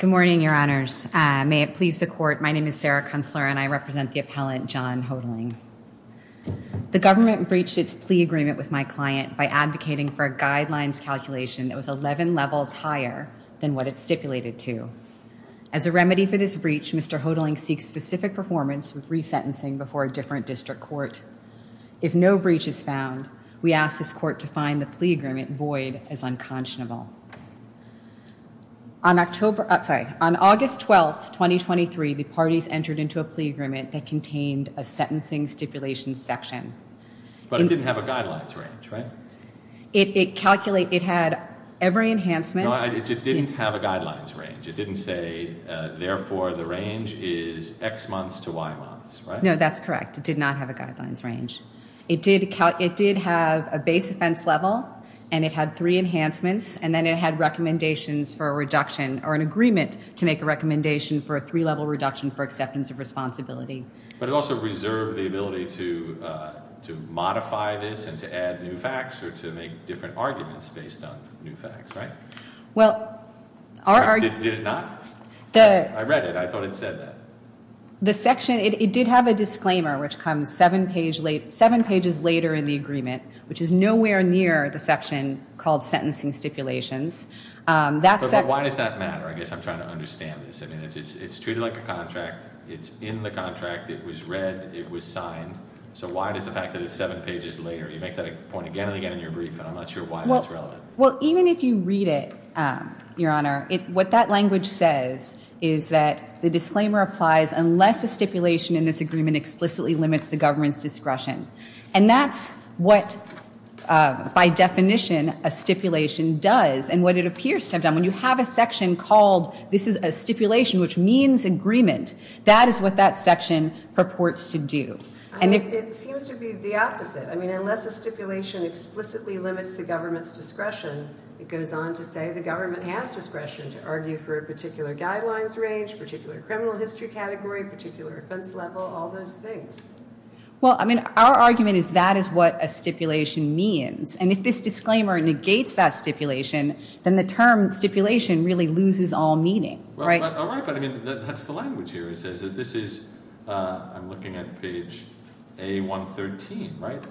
Good morning, your honors. May it please the court, my name is Sarah Kunstler and I represent the appellant John Hotaling. The government breached its plea agreement with my client by advocating for a guidelines calculation that was 11 levels higher than what it stipulated to. As a remedy for this breach, Mr. Hotaling seeks specific performance with resentencing before a different district court. If no breach is found, we ask this court to find the plea agreement void as unconscionable. On August 12, 2023, the parties entered into a plea agreement that contained a sentencing stipulation section. But it didn't have a guidelines range, right? It had every enhancement. It didn't have a guidelines range. It didn't say, therefore, the range is X months to Y months, right? No, that's correct. It did not have a guidelines range. It did have a base offense level, and it had three enhancements, and then it had recommendations for a reduction or an agreement to make a recommendation for a three-level reduction for acceptance of responsibility. But it also reserved the ability to modify this and to add new facts or to make different arguments based on new facts, right? Well, our argument- Did it not? I read it. I thought it said that. The section, it did have a disclaimer, which comes seven pages later in the agreement, which is nowhere near the section called sentencing stipulations. But why does that matter? I guess I'm trying to understand this. I mean, it's treated like a contract. It's in the contract. It was read. It was signed. So why does the fact that it's seven pages later, you make that point again and again in your brief, and I'm not sure why that's relevant. Well, even if you read it, Your Honor, what that language says is that the disclaimer applies unless a stipulation in this agreement explicitly limits the government's discretion. And that's what, by definition, a stipulation does and what it appears to have done. When you have a section called, this is a stipulation which means agreement, that is what that section purports to do. It seems to be the opposite. I mean, unless a stipulation explicitly limits the government's discretion, it goes on to say the government has discretion to argue for a particular guidelines range, particular criminal history category, particular offense level, all those things. Well, I mean, our argument is that is what a stipulation means. And if this disclaimer negates that stipulation, then the term stipulation really loses all meaning. All right, but I mean, that's the language here. It says that this is, I'm looking at page A113, right?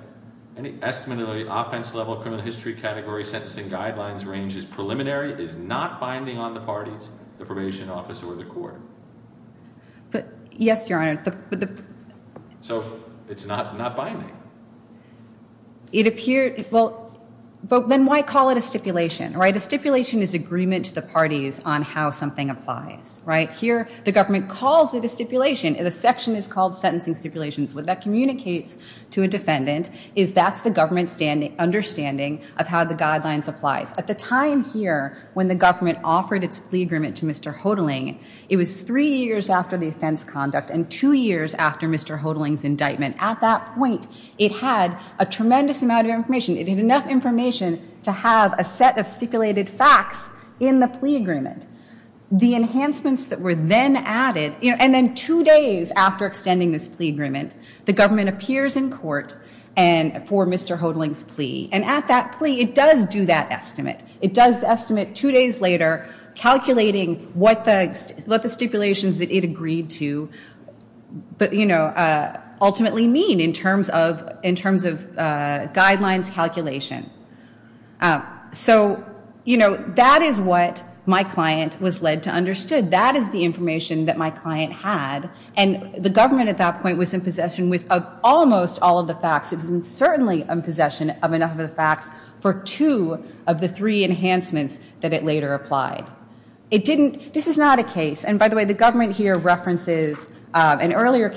Any estimate of the offense level, criminal history category, sentencing guidelines range is preliminary, is not binding on the parties, the probation officer, or the court. Yes, Your Honor. So it's not binding? It appeared, well, then why call it a stipulation, right? A stipulation is agreement to the parties on how something applies, right? Here, the government calls it a stipulation. The section is called sentencing stipulations. What that communicates to a defendant is that's the government understanding of how the guidelines applies. At the time here, when the government offered its plea agreement to Mr. Hodling, it was three years after the offense conduct and two years after Mr. Hodling's indictment. At that point, it had a tremendous amount of information. It had enough information to have a set of stipulated facts in the plea agreement. The enhancements that were then added, and then two days after extending this plea agreement, the government appears in court for Mr. Hodling's plea. And at that plea, it does do that estimate. It does the estimate two days later, calculating what the stipulations that it agreed to ultimately mean in terms of guidelines calculation. So that is what my client was led to understand. That is the information that my client had. And the government at that point was in possession of almost all of the facts. It was certainly in possession of enough of the facts for two of the three enhancements that it later applied. This is not a case. And by the way, the government here references another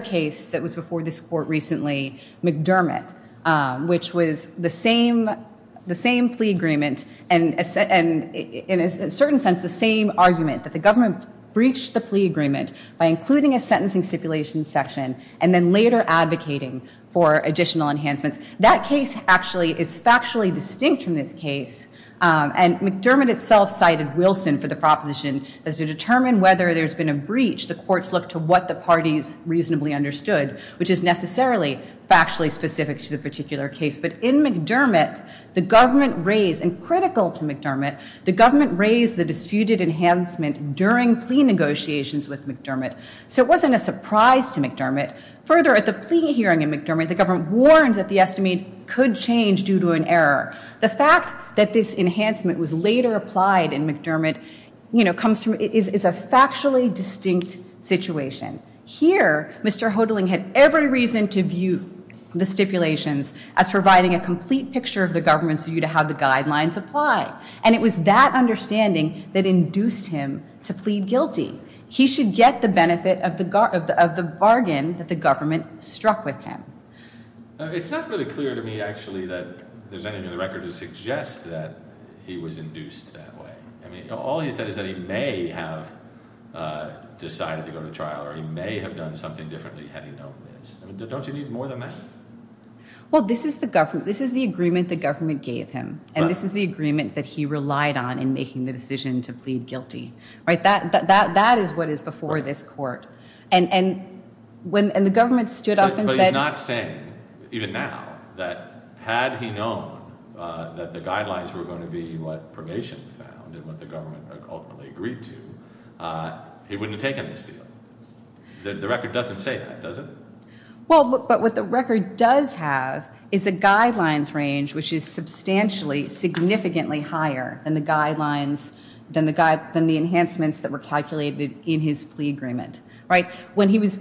case that was before this court recently, McDermott, which was the same plea agreement and, in a certain sense, the same argument, that the government breached the plea agreement by including a sentencing stipulation section and then later advocating for additional enhancements. That case actually is factually distinct from this case. And McDermott itself cited Wilson for the proposition that to determine whether there's been a breach, the courts look to what the parties reasonably understood, which is necessarily factually specific to the particular case. But in McDermott, the government raised, and critical to McDermott, the government raised the disputed enhancement during plea negotiations with McDermott. So it wasn't a surprise to McDermott. Further, at the plea hearing in McDermott, the government warned that the estimate could change due to an error. The fact that this enhancement was later applied in McDermott is a factually distinct situation. Here, Mr. Hodling had every reason to view the stipulations as providing a complete picture of the government's view to how the guidelines apply. And it was that understanding that induced him to plead guilty. He should get the benefit of the bargain that the government struck with him. It's not really clear to me, actually, that there's anything in the record to suggest that he was induced that way. All he said is that he may have decided to go to trial, or he may have done something differently had he known this. Don't you need more than that? Well, this is the agreement the government gave him. And this is the agreement that he relied on in making the decision to plead guilty. That is what is before this court. But he's not saying, even now, that had he known that the guidelines were going to be what probation found and what the government ultimately agreed to, he wouldn't have taken this deal. The record doesn't say that, does it? Well, but what the record does have is a guidelines range which is substantially, significantly higher than the enhancements that were calculated in his plea agreement. But he goes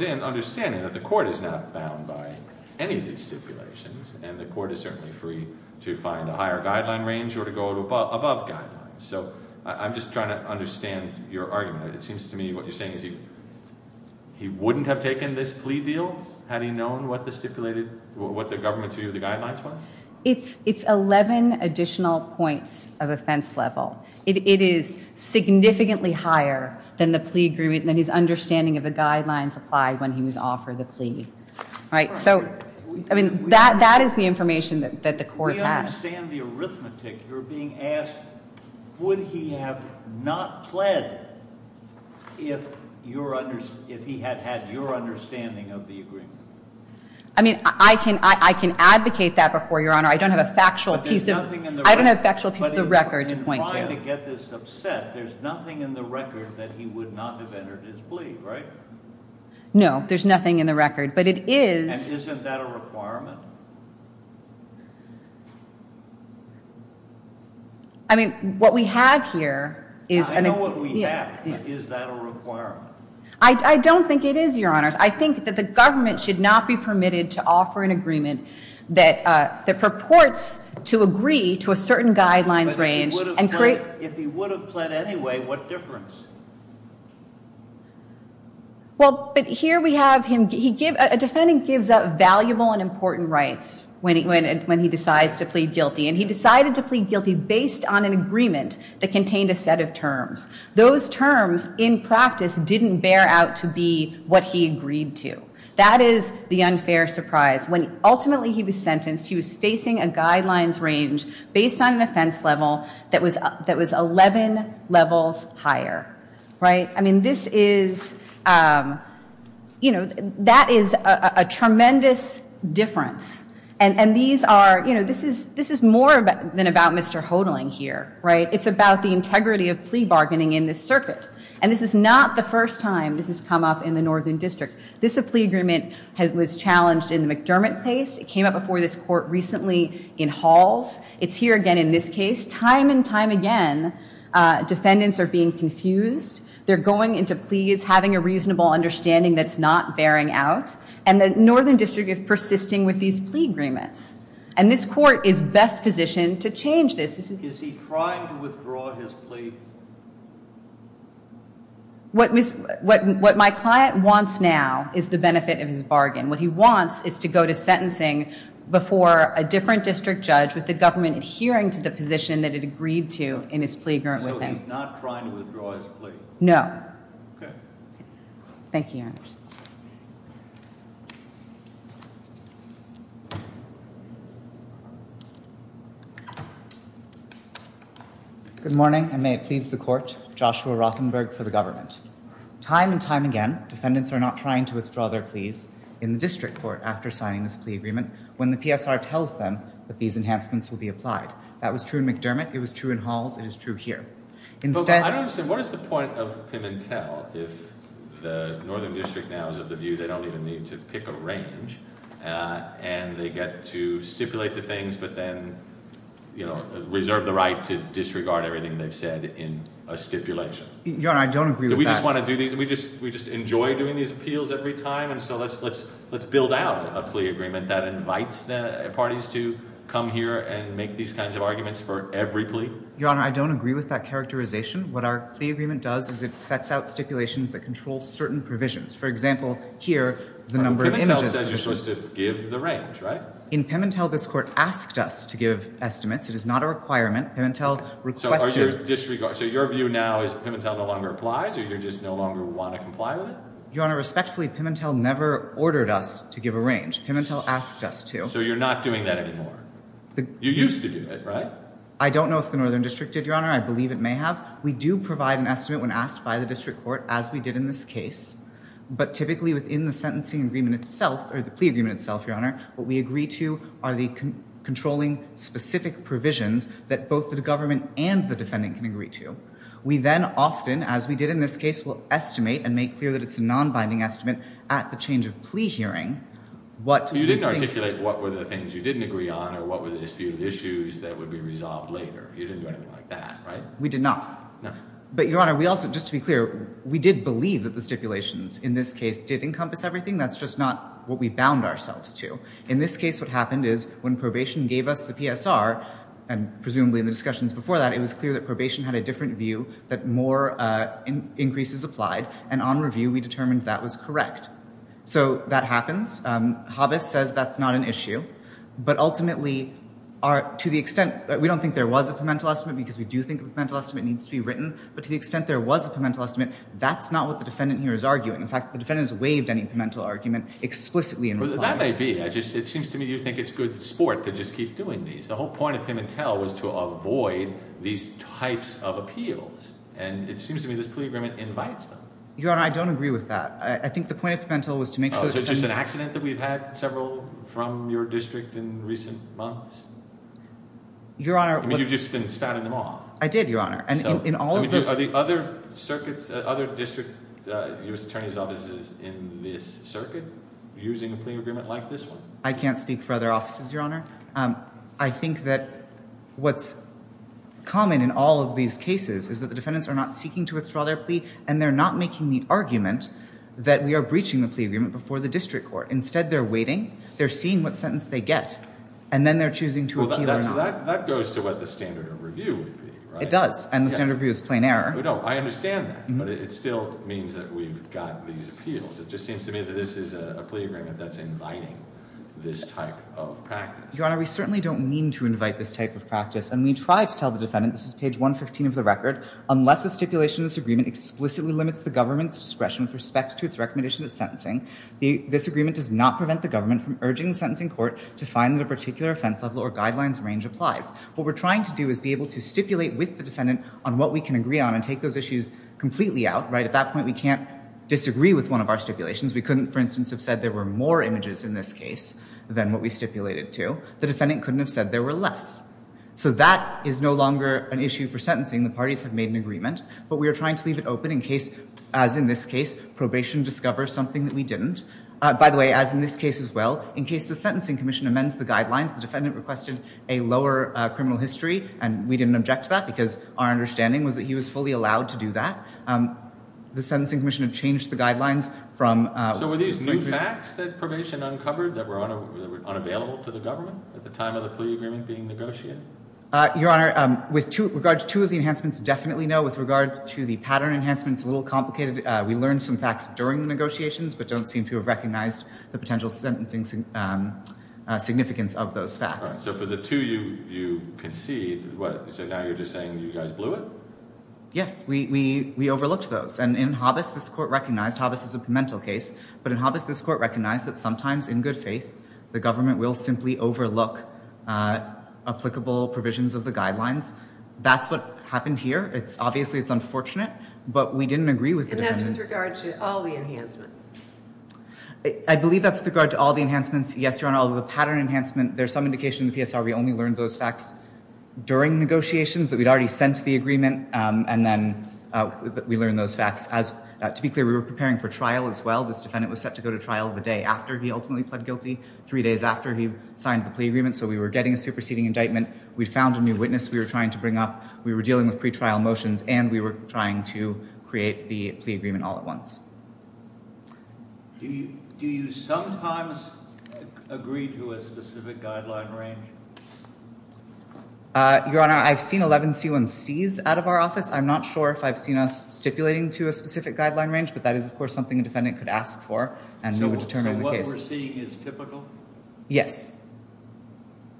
in understanding that the court is not bound by any of these stipulations, and the court is certainly free to find a higher guideline range or to go above guidelines. So I'm just trying to understand your argument. It seems to me what you're saying is he wouldn't have taken this plea deal had he known what the government's view of the guidelines was? It's 11 additional points of offense level. It is significantly higher than the plea agreement, than his understanding of the guidelines applied when he was offered the plea. Right? So, I mean, that is the information that the court has. We understand the arithmetic. You're being asked, would he have not pled if he had had your understanding of the agreement? I mean, I can advocate that before you, Your Honor. I don't have a factual piece of the record to point to. I'm trying to get this upset. There's nothing in the record that he would not have entered his plea, right? No, there's nothing in the record. But it is. And isn't that a requirement? I mean, what we have here is. I know what we have, but is that a requirement? I don't think it is, Your Honor. I think that the government should not be permitted to offer an agreement that purports to agree to a certain guidelines range. If he would have pled anyway, what difference? Well, but here we have him. A defendant gives up valuable and important rights when he decides to plead guilty. And he decided to plead guilty based on an agreement that contained a set of terms. Those terms, in practice, didn't bear out to be what he agreed to. That is the unfair surprise. When ultimately he was sentenced, he was facing a guidelines range based on an offense level that was 11 levels higher, right? I mean, this is, you know, that is a tremendous difference. And these are, you know, this is more than about Mr. Hodling here, right? It's about the integrity of plea bargaining in this circuit. And this is not the first time this has come up in the Northern District. This plea agreement was challenged in the McDermott case. It came up before this court recently in Halls. It's here again in this case. Time and time again, defendants are being confused. They're going into pleas having a reasonable understanding that's not bearing out. And the Northern District is persisting with these plea agreements. And this court is best positioned to change this. Is he trying to withdraw his plea? What my client wants now is the benefit of his bargain. What he wants is to go to sentencing before a different district judge with the government adhering to the position that it agreed to in his plea agreement with him. So he's not trying to withdraw his plea? No. Okay. Thank you, Your Honor. Thank you, Your Honors. Good morning, and may it please the court. Joshua Rothenberg for the government. Time and time again, defendants are not trying to withdraw their pleas in the district court after signing this plea agreement when the PSR tells them that these enhancements will be applied. That was true in McDermott. It was true in Halls. It is true here. I don't understand. What is the point of Pimentel if the Northern District now is of the view they don't even need to pick a range and they get to stipulate the things but then, you know, reserve the right to disregard everything they've said in a stipulation? Your Honor, I don't agree with that. Do we just want to do these? Do we just enjoy doing these appeals every time? And so let's build out a plea agreement that invites the parties to come here and make these kinds of arguments for every plea? Your Honor, I don't agree with that characterization. What our plea agreement does is it sets out stipulations that control certain provisions. For example, here, the number of images. Pimentel says you're supposed to give the range, right? In Pimentel, this court asked us to give estimates. It is not a requirement. Pimentel requested. So your view now is Pimentel no longer applies or you just no longer want to comply with it? Your Honor, respectfully, Pimentel never ordered us to give a range. Pimentel asked us to. So you're not doing that anymore? You used to do it, right? I don't know if the Northern District did, Your Honor. I believe it may have. We do provide an estimate when asked by the district court, as we did in this case. But typically within the sentencing agreement itself, or the plea agreement itself, Your Honor, what we agree to are the controlling specific provisions that both the government and the defendant can agree to. We then often, as we did in this case, will estimate and make clear that it's a non-binding estimate at the change of plea hearing. You didn't articulate what were the things you didn't agree on or what were the disputed issues that would be resolved later. You didn't do anything like that, right? We did not. No. But, Your Honor, just to be clear, we did believe that the stipulations in this case did encompass everything. That's just not what we bound ourselves to. In this case, what happened is when probation gave us the PSR, and presumably in the discussions before that, it was clear that probation had a different view, that more increases applied. And on review, we determined that was correct. So that happens. Hobbes says that's not an issue. But ultimately, to the extent that we don't think there was a pimental estimate because we do think a pimental estimate needs to be written, but to the extent there was a pimental estimate, that's not what the defendant here is arguing. In fact, the defendant has waived any pimental argument explicitly in reply. That may be. It seems to me you think it's good sport to just keep doing these. The whole point of pimentel was to avoid these types of appeals. And it seems to me this plea agreement invites them. Your Honor, I don't agree with that. I think the point of pimental was to make sure that the defendant— Oh, so it's just an accident that we've had several from your district in recent months? Your Honor, what's— I mean, you've just been spouting them off. I did, Your Honor. And in all of those— I mean, are there other circuits, other district U.S. Attorney's offices in this circuit using a plea agreement like this one? I can't speak for other offices, Your Honor. I think that what's common in all of these cases is that the defendants are not seeking to withdraw their plea, and they're not making the argument that we are breaching the plea agreement before the district court. Instead, they're waiting. They're seeing what sentence they get, and then they're choosing to appeal or not. Well, that goes to what the standard of review would be, right? It does, and the standard of review is plain error. No, I understand that, but it still means that we've got these appeals. It just seems to me that this is a plea agreement that's inviting this type of practice. Your Honor, we certainly don't mean to invite this type of practice, and we try to tell the defendant—this is page 115 of the record— unless the stipulation in this agreement explicitly limits the government's discretion with respect to its recommendation of sentencing, this agreement does not prevent the government from urging the sentencing court to find that a particular offense level or guidelines range applies. What we're trying to do is be able to stipulate with the defendant on what we can agree on and take those issues completely out, right? At that point, we can't disagree with one of our stipulations. We couldn't, for instance, have said there were more images in this case than what we stipulated to. The defendant couldn't have said there were less. So that is no longer an issue for sentencing. The parties have made an agreement, but we are trying to leave it open in case, as in this case, probation discovers something that we didn't. By the way, as in this case as well, in case the Sentencing Commission amends the guidelines, the defendant requested a lower criminal history, and we didn't object to that because our understanding was that he was fully allowed to do that. The Sentencing Commission had changed the guidelines from- So were these new facts that probation uncovered that were unavailable to the government at the time of the plea agreement being negotiated? Your Honor, with regard to two of the enhancements, definitely no. With regard to the pattern enhancements, a little complicated. We learned some facts during the negotiations but don't seem to have recognized the potential sentencing significance of those facts. So for the two you concede, what, so now you're just saying you guys blew it? Yes, we overlooked those. And in Hobbes, this Court recognized, Hobbes is a parental case, but in Hobbes this Court recognized that sometimes in good faith the government will simply overlook applicable provisions of the guidelines. That's what happened here. Obviously it's unfortunate, but we didn't agree with the defendant. And that's with regard to all the enhancements? I believe that's with regard to all the enhancements. Yes, Your Honor, all of the pattern enhancements, there's some indication in the PSR we only learned those facts during negotiations, that we'd already sent the agreement, and then we learned those facts. To be clear, we were preparing for trial as well. This defendant was set to go to trial the day after he ultimately pled guilty, three days after he signed the plea agreement, so we were getting a superseding indictment. We found a new witness we were trying to bring up. We were dealing with pretrial motions, and we were trying to create the plea agreement all at once. Do you sometimes agree to a specific guideline range? Your Honor, I've seen 11 C1Cs out of our office. I'm not sure if I've seen us stipulating to a specific guideline range, but that is, of course, something a defendant could ask for and determine the case. So what we're seeing is typical? Yes.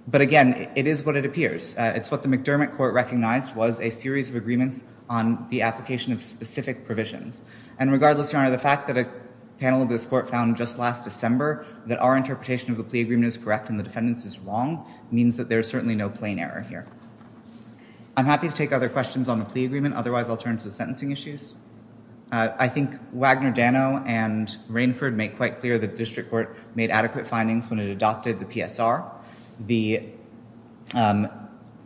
But again, it is what it appears. It's what the McDermott Court recognized was a series of agreements on the application of specific provisions. And regardless, Your Honor, the fact that a panel of this Court found just last December that our interpretation of the plea agreement is correct and the defendant's is wrong means that there is certainly no plain error here. I'm happy to take other questions on the plea agreement. Otherwise, I'll turn to the sentencing issues. I think Wagner, Dano, and Rainford make quite clear the district court made adequate findings when it adopted the PSR. The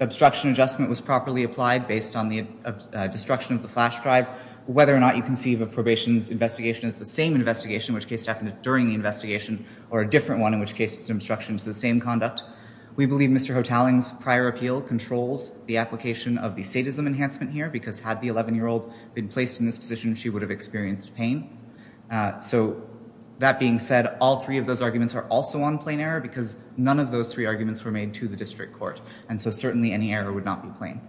obstruction adjustment was properly applied based on the destruction of the flash drive. Whether or not you conceive of probation's investigation as the same investigation, which case it happened during the investigation, or a different one, in which case it's an obstruction to the same conduct, we believe Mr. Hotaling's prior appeal controls the application of the sadism enhancement here because had the 11-year-old been placed in this position, she would have experienced pain. So that being said, all three of those arguments are also on plain error because none of those three arguments were made to the district court, and so certainly any error would not be plain.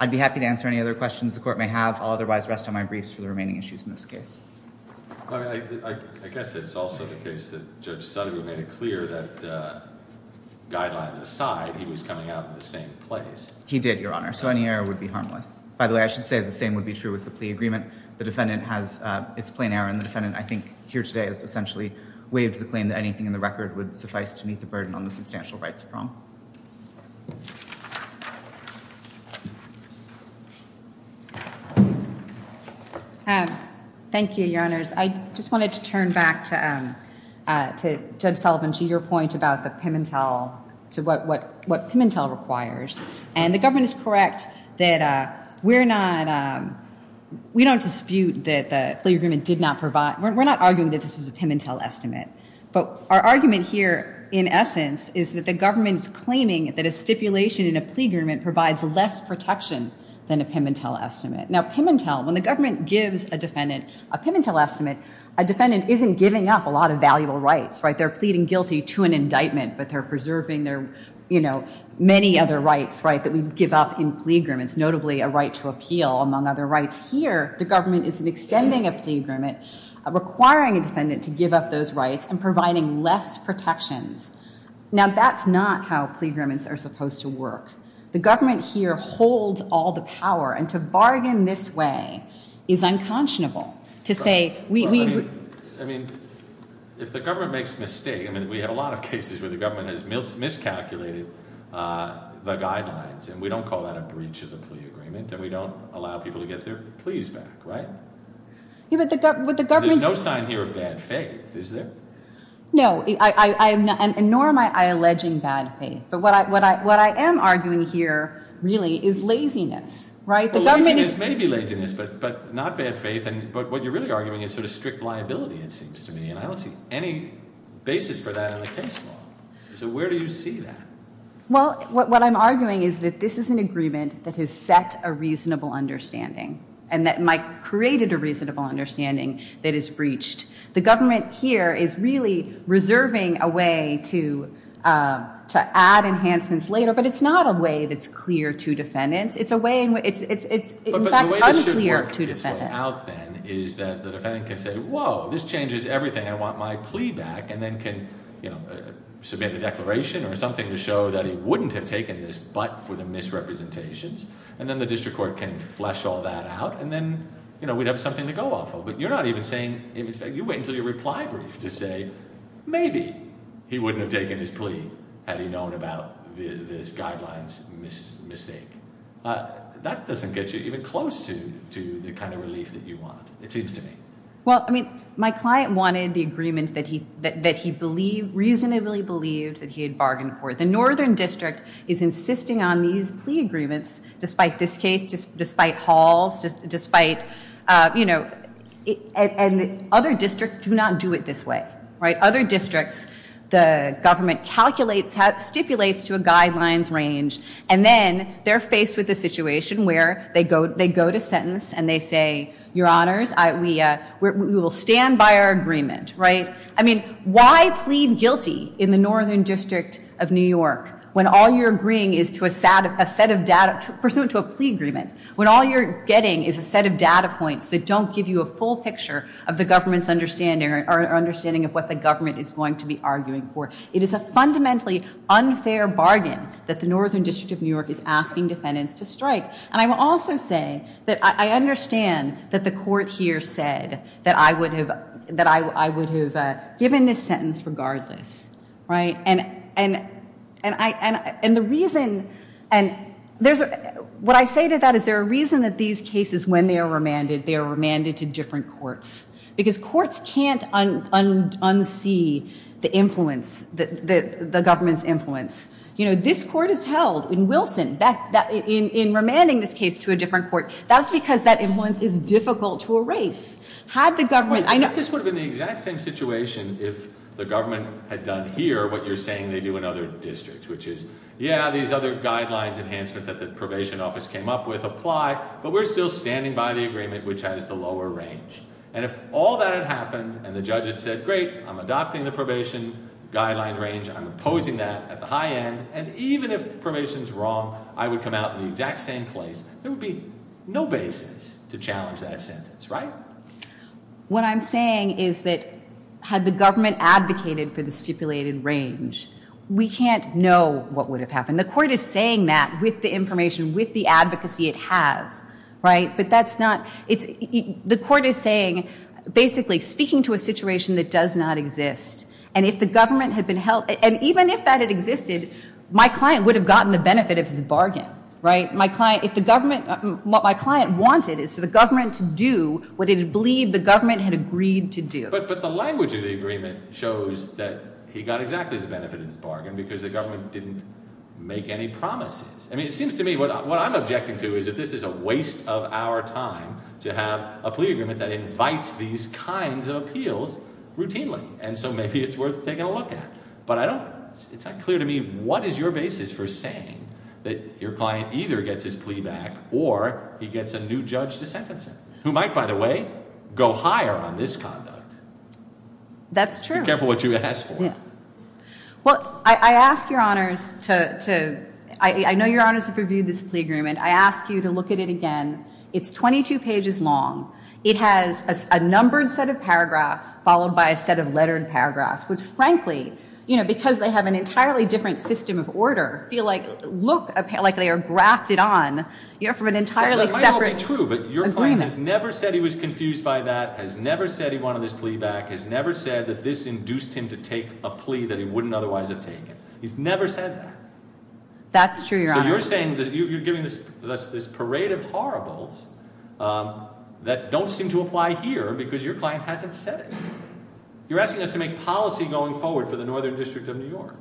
I'd be happy to answer any other questions the court may have. I'll otherwise rest on my briefs for the remaining issues in this case. I guess it's also the case that Judge Suttego made it clear that guidelines aside, he was coming out in the same place. He did, Your Honor, so any error would be harmless. By the way, I should say the same would be true with the plea agreement. The defendant has its plain error, and the defendant, I think, here today has essentially waived the claim that anything in the record would suffice to meet the burden on the substantial rights prong. Thank you, Your Honors. I just wanted to turn back to Judge Sullivan to your point about the Pimentel, to what Pimentel requires, and the government is correct that we're not, we don't dispute that the plea agreement did not provide, we're not arguing that this was a Pimentel estimate, but our argument here, in essence, is that the government's claiming that a stipulation in a plea agreement provides less protection than a Pimentel estimate. Now, Pimentel, when the government gives a defendant a Pimentel estimate, a defendant isn't giving up a lot of valuable rights, right? They're pleading guilty to an indictment, but they're preserving their, you know, many other rights, right, that we give up in plea agreements, notably a right to appeal, among other rights. Now, that's here the government isn't extending a plea agreement, requiring a defendant to give up those rights, and providing less protections. Now, that's not how plea agreements are supposed to work. The government here holds all the power, and to bargain this way is unconscionable, to say we... I mean, if the government makes a mistake, I mean, we have a lot of cases where the government has miscalculated the guidelines, and we don't call that a breach of the plea agreement, and we don't allow people to get their pleas back, right? Yeah, but the government... There's no sign here of bad faith, is there? No, nor am I alleging bad faith, but what I am arguing here, really, is laziness, right? Well, laziness may be laziness, but not bad faith, but what you're really arguing is sort of strict liability, it seems to me, and I don't see any basis for that in the case law. So where do you see that? Well, what I'm arguing is that this is an agreement that has set a reasonable understanding, and that might create a reasonable understanding that is breached. The government here is really reserving a way to add enhancements later, but it's not a way that's clear to defendants. It's a way in which... But the way it should work out, then, is that the defendant can say, I want my plea back, and then can submit a declaration or something to show that he wouldn't have taken this but for the misrepresentations, and then the district court can flesh all that out, and then we'd have something to go off of. But you're not even saying... In fact, you wait until your reply brief to say, maybe he wouldn't have taken his plea had he known about this guideline's mistake. That doesn't get you even close to the kind of relief that you want, it seems to me. Well, I mean, my client wanted the agreement that he reasonably believed that he had bargained for. The northern district is insisting on these plea agreements, despite this case, despite halls, despite, you know... And other districts do not do it this way, right? Other districts, the government calculates, stipulates to a guidelines range, and then they're faced with a situation where they go to sentence and they say, your honors, we will stand by our agreement, right? I mean, why plead guilty in the northern district of New York when all you're agreeing is to a set of data, pursuant to a plea agreement, when all you're getting is a set of data points that don't give you a full picture of the government's understanding or understanding of what the government is going to be arguing for? It is a fundamentally unfair bargain that the northern district of New York is asking defendants to strike. And I will also say that I understand that the court here said that I would have given this sentence regardless, right? And the reason... What I say to that is there's a reason that these cases, when they are remanded, they are remanded to different courts. Because courts can't unsee the influence, the government's influence. You know, this court is held in Wilson, in remanding this case to a different court. That's because that influence is difficult to erase. Had the government... I think this would have been the exact same situation if the government had done here what you're saying they do in other districts, which is, yeah, these other guidelines enhancement that the probation office came up with apply, but we're still standing by the agreement which has the lower range. And if all that had happened and the judge had said, great, I'm adopting the probation guideline range, I'm opposing that at the high end, and even if probation is wrong, I would come out in the exact same place, there would be no basis to challenge that sentence, right? What I'm saying is that had the government advocated for the stipulated range, we can't know what would have happened. The court is saying that with the information, with the advocacy it has, right? But that's not... The court is saying, basically, speaking to a situation that does not exist, and if the government had been held... And even if that had existed, my client would have gotten the benefit of his bargain, right? If the government... What my client wanted is for the government to do what it had believed the government had agreed to do. But the language of the agreement shows that he got exactly the benefit of his bargain because the government didn't make any promises. I mean, it seems to me what I'm objecting to is that this is a waste of our time to have a plea agreement that invites these kinds of appeals routinely, and so maybe it's worth taking a look at. But I don't... It's not clear to me what is your basis for saying that your client either gets his plea back or he gets a new judge to sentence him, who might, by the way, go higher on this conduct. That's true. Be careful what you ask for. Well, I ask your honors to... I know your honors have reviewed this plea agreement. I ask you to look at it again. It's 22 pages long. It has a numbered set of paragraphs followed by a set of lettered paragraphs, which frankly, you know, because they have an entirely different system of order, feel like, look like they are grafted on from an entirely separate agreement. That might not be true, but your client has never said he was confused by that, has never said he wanted his plea back, has never said that this induced him to take a plea that he wouldn't otherwise have taken. He's never said that. That's true, your honors. So you're saying you're giving us this parade of horribles that don't seem to apply here because your client hasn't said it. You're asking us to make policy going forward for the Northern District of New York.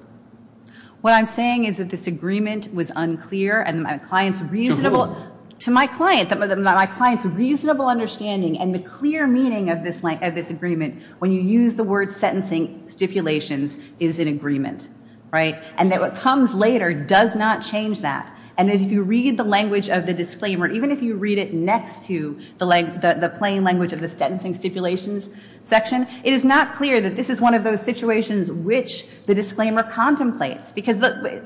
What I'm saying is that this agreement was unclear and my client's reasonable... To whom? To my client. My client's reasonable understanding and the clear meaning of this agreement when you use the word sentencing stipulations is an agreement, right? And that what comes later does not change that. And if you read the language of the disclaimer, even if you read it next to the plain language of the sentencing stipulations section, it is not clear that this is one of those situations which the disclaimer contemplates because the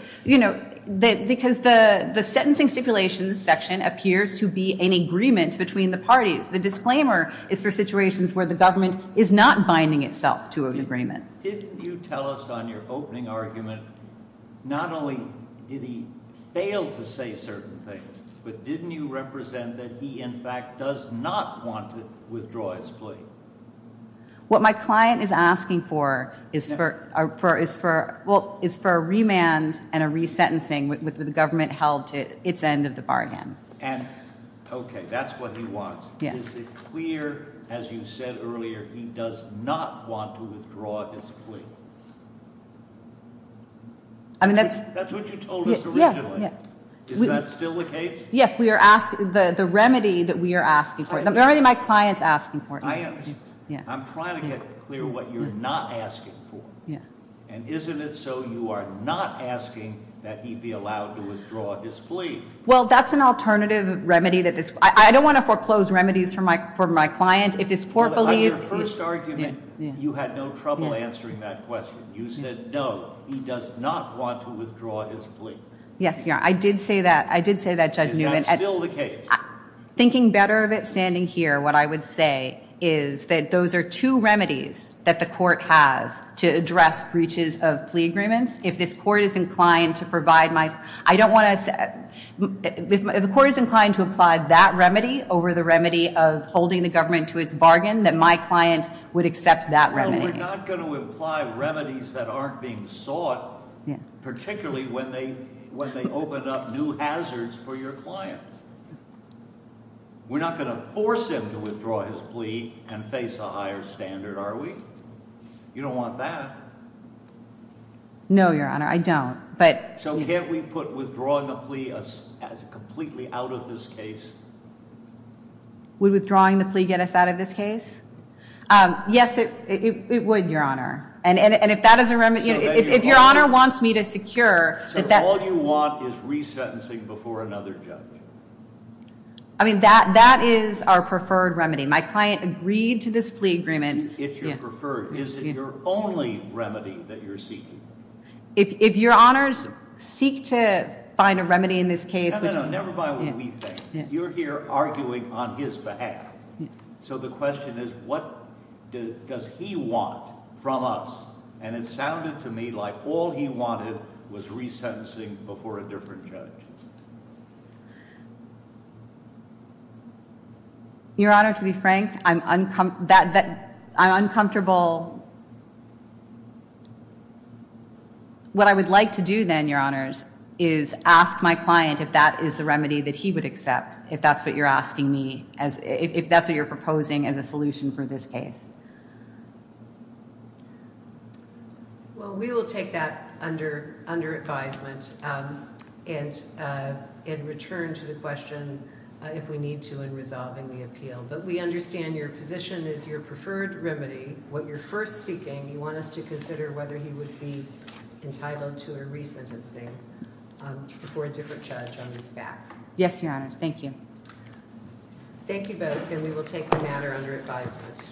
sentencing stipulations section appears to be an agreement between the parties. The disclaimer is for situations where the government is not binding itself to an agreement. Didn't you tell us on your opening argument not only did he fail to say certain things, but didn't you represent that he, in fact, does not want to withdraw his plea? What my client is asking for is for a remand and a resentencing with the government held to its end of the bargain. Okay, that's what he wants. Is it clear, as you said earlier, he does not want to withdraw his plea? That's what you told us originally. Is that still the case? Yes, the remedy that we are asking for. The remedy my client is asking for. I'm trying to get clear what you're not asking for. And isn't it so you are not asking that he be allowed to withdraw his plea? Well, that's an alternative remedy. I don't want to foreclose remedies for my client. On your first argument, you had no trouble answering that question. You said, no, he does not want to withdraw his plea. Yes, Your Honor. I did say that, Judge Newman. Is that still the case? Thinking better of it standing here, what I would say is that those are two remedies that the court has to address breaches of plea agreements. If the court is inclined to apply that remedy over the remedy of holding the government to its bargain, then my client would accept that remedy. Well, we're not going to apply remedies that aren't being sought, particularly when they open up new hazards for your client. We're not going to force him to withdraw his plea and face a higher standard, are we? You don't want that. No, Your Honor. I don't. So can't we put withdrawing the plea as completely out of this case? Would withdrawing the plea get us out of this case? Yes, it would, Your Honor. And if that is a remedy, if Your Honor wants me to secure... So all you want is resentencing before another judge? I mean, that is our preferred remedy. My client agreed to this plea agreement. It's your preferred. Is it your only remedy that you're seeking? If Your Honors seek to find a remedy in this case... No, no, no, never mind what we think. You're here arguing on his behalf. So the question is, what does he want from us? And it sounded to me like all he wanted was resentencing before a different judge. Your Honor, to be frank, I'm uncomfortable... What I would like to do then, Your Honors, is ask my client if that is the remedy that he would accept. If that's what you're asking me, if that's what you're proposing as a solution for this case. Well, we will take that under advisement and return to the question if we need to in resolving the appeal. But we understand your position is your preferred remedy. What you're first seeking, you want us to consider whether he would be entitled to a resentencing before a different judge on these facts. Yes, Your Honor. Thank you. Thank you both, and we will take the matter under advisement. Thank you.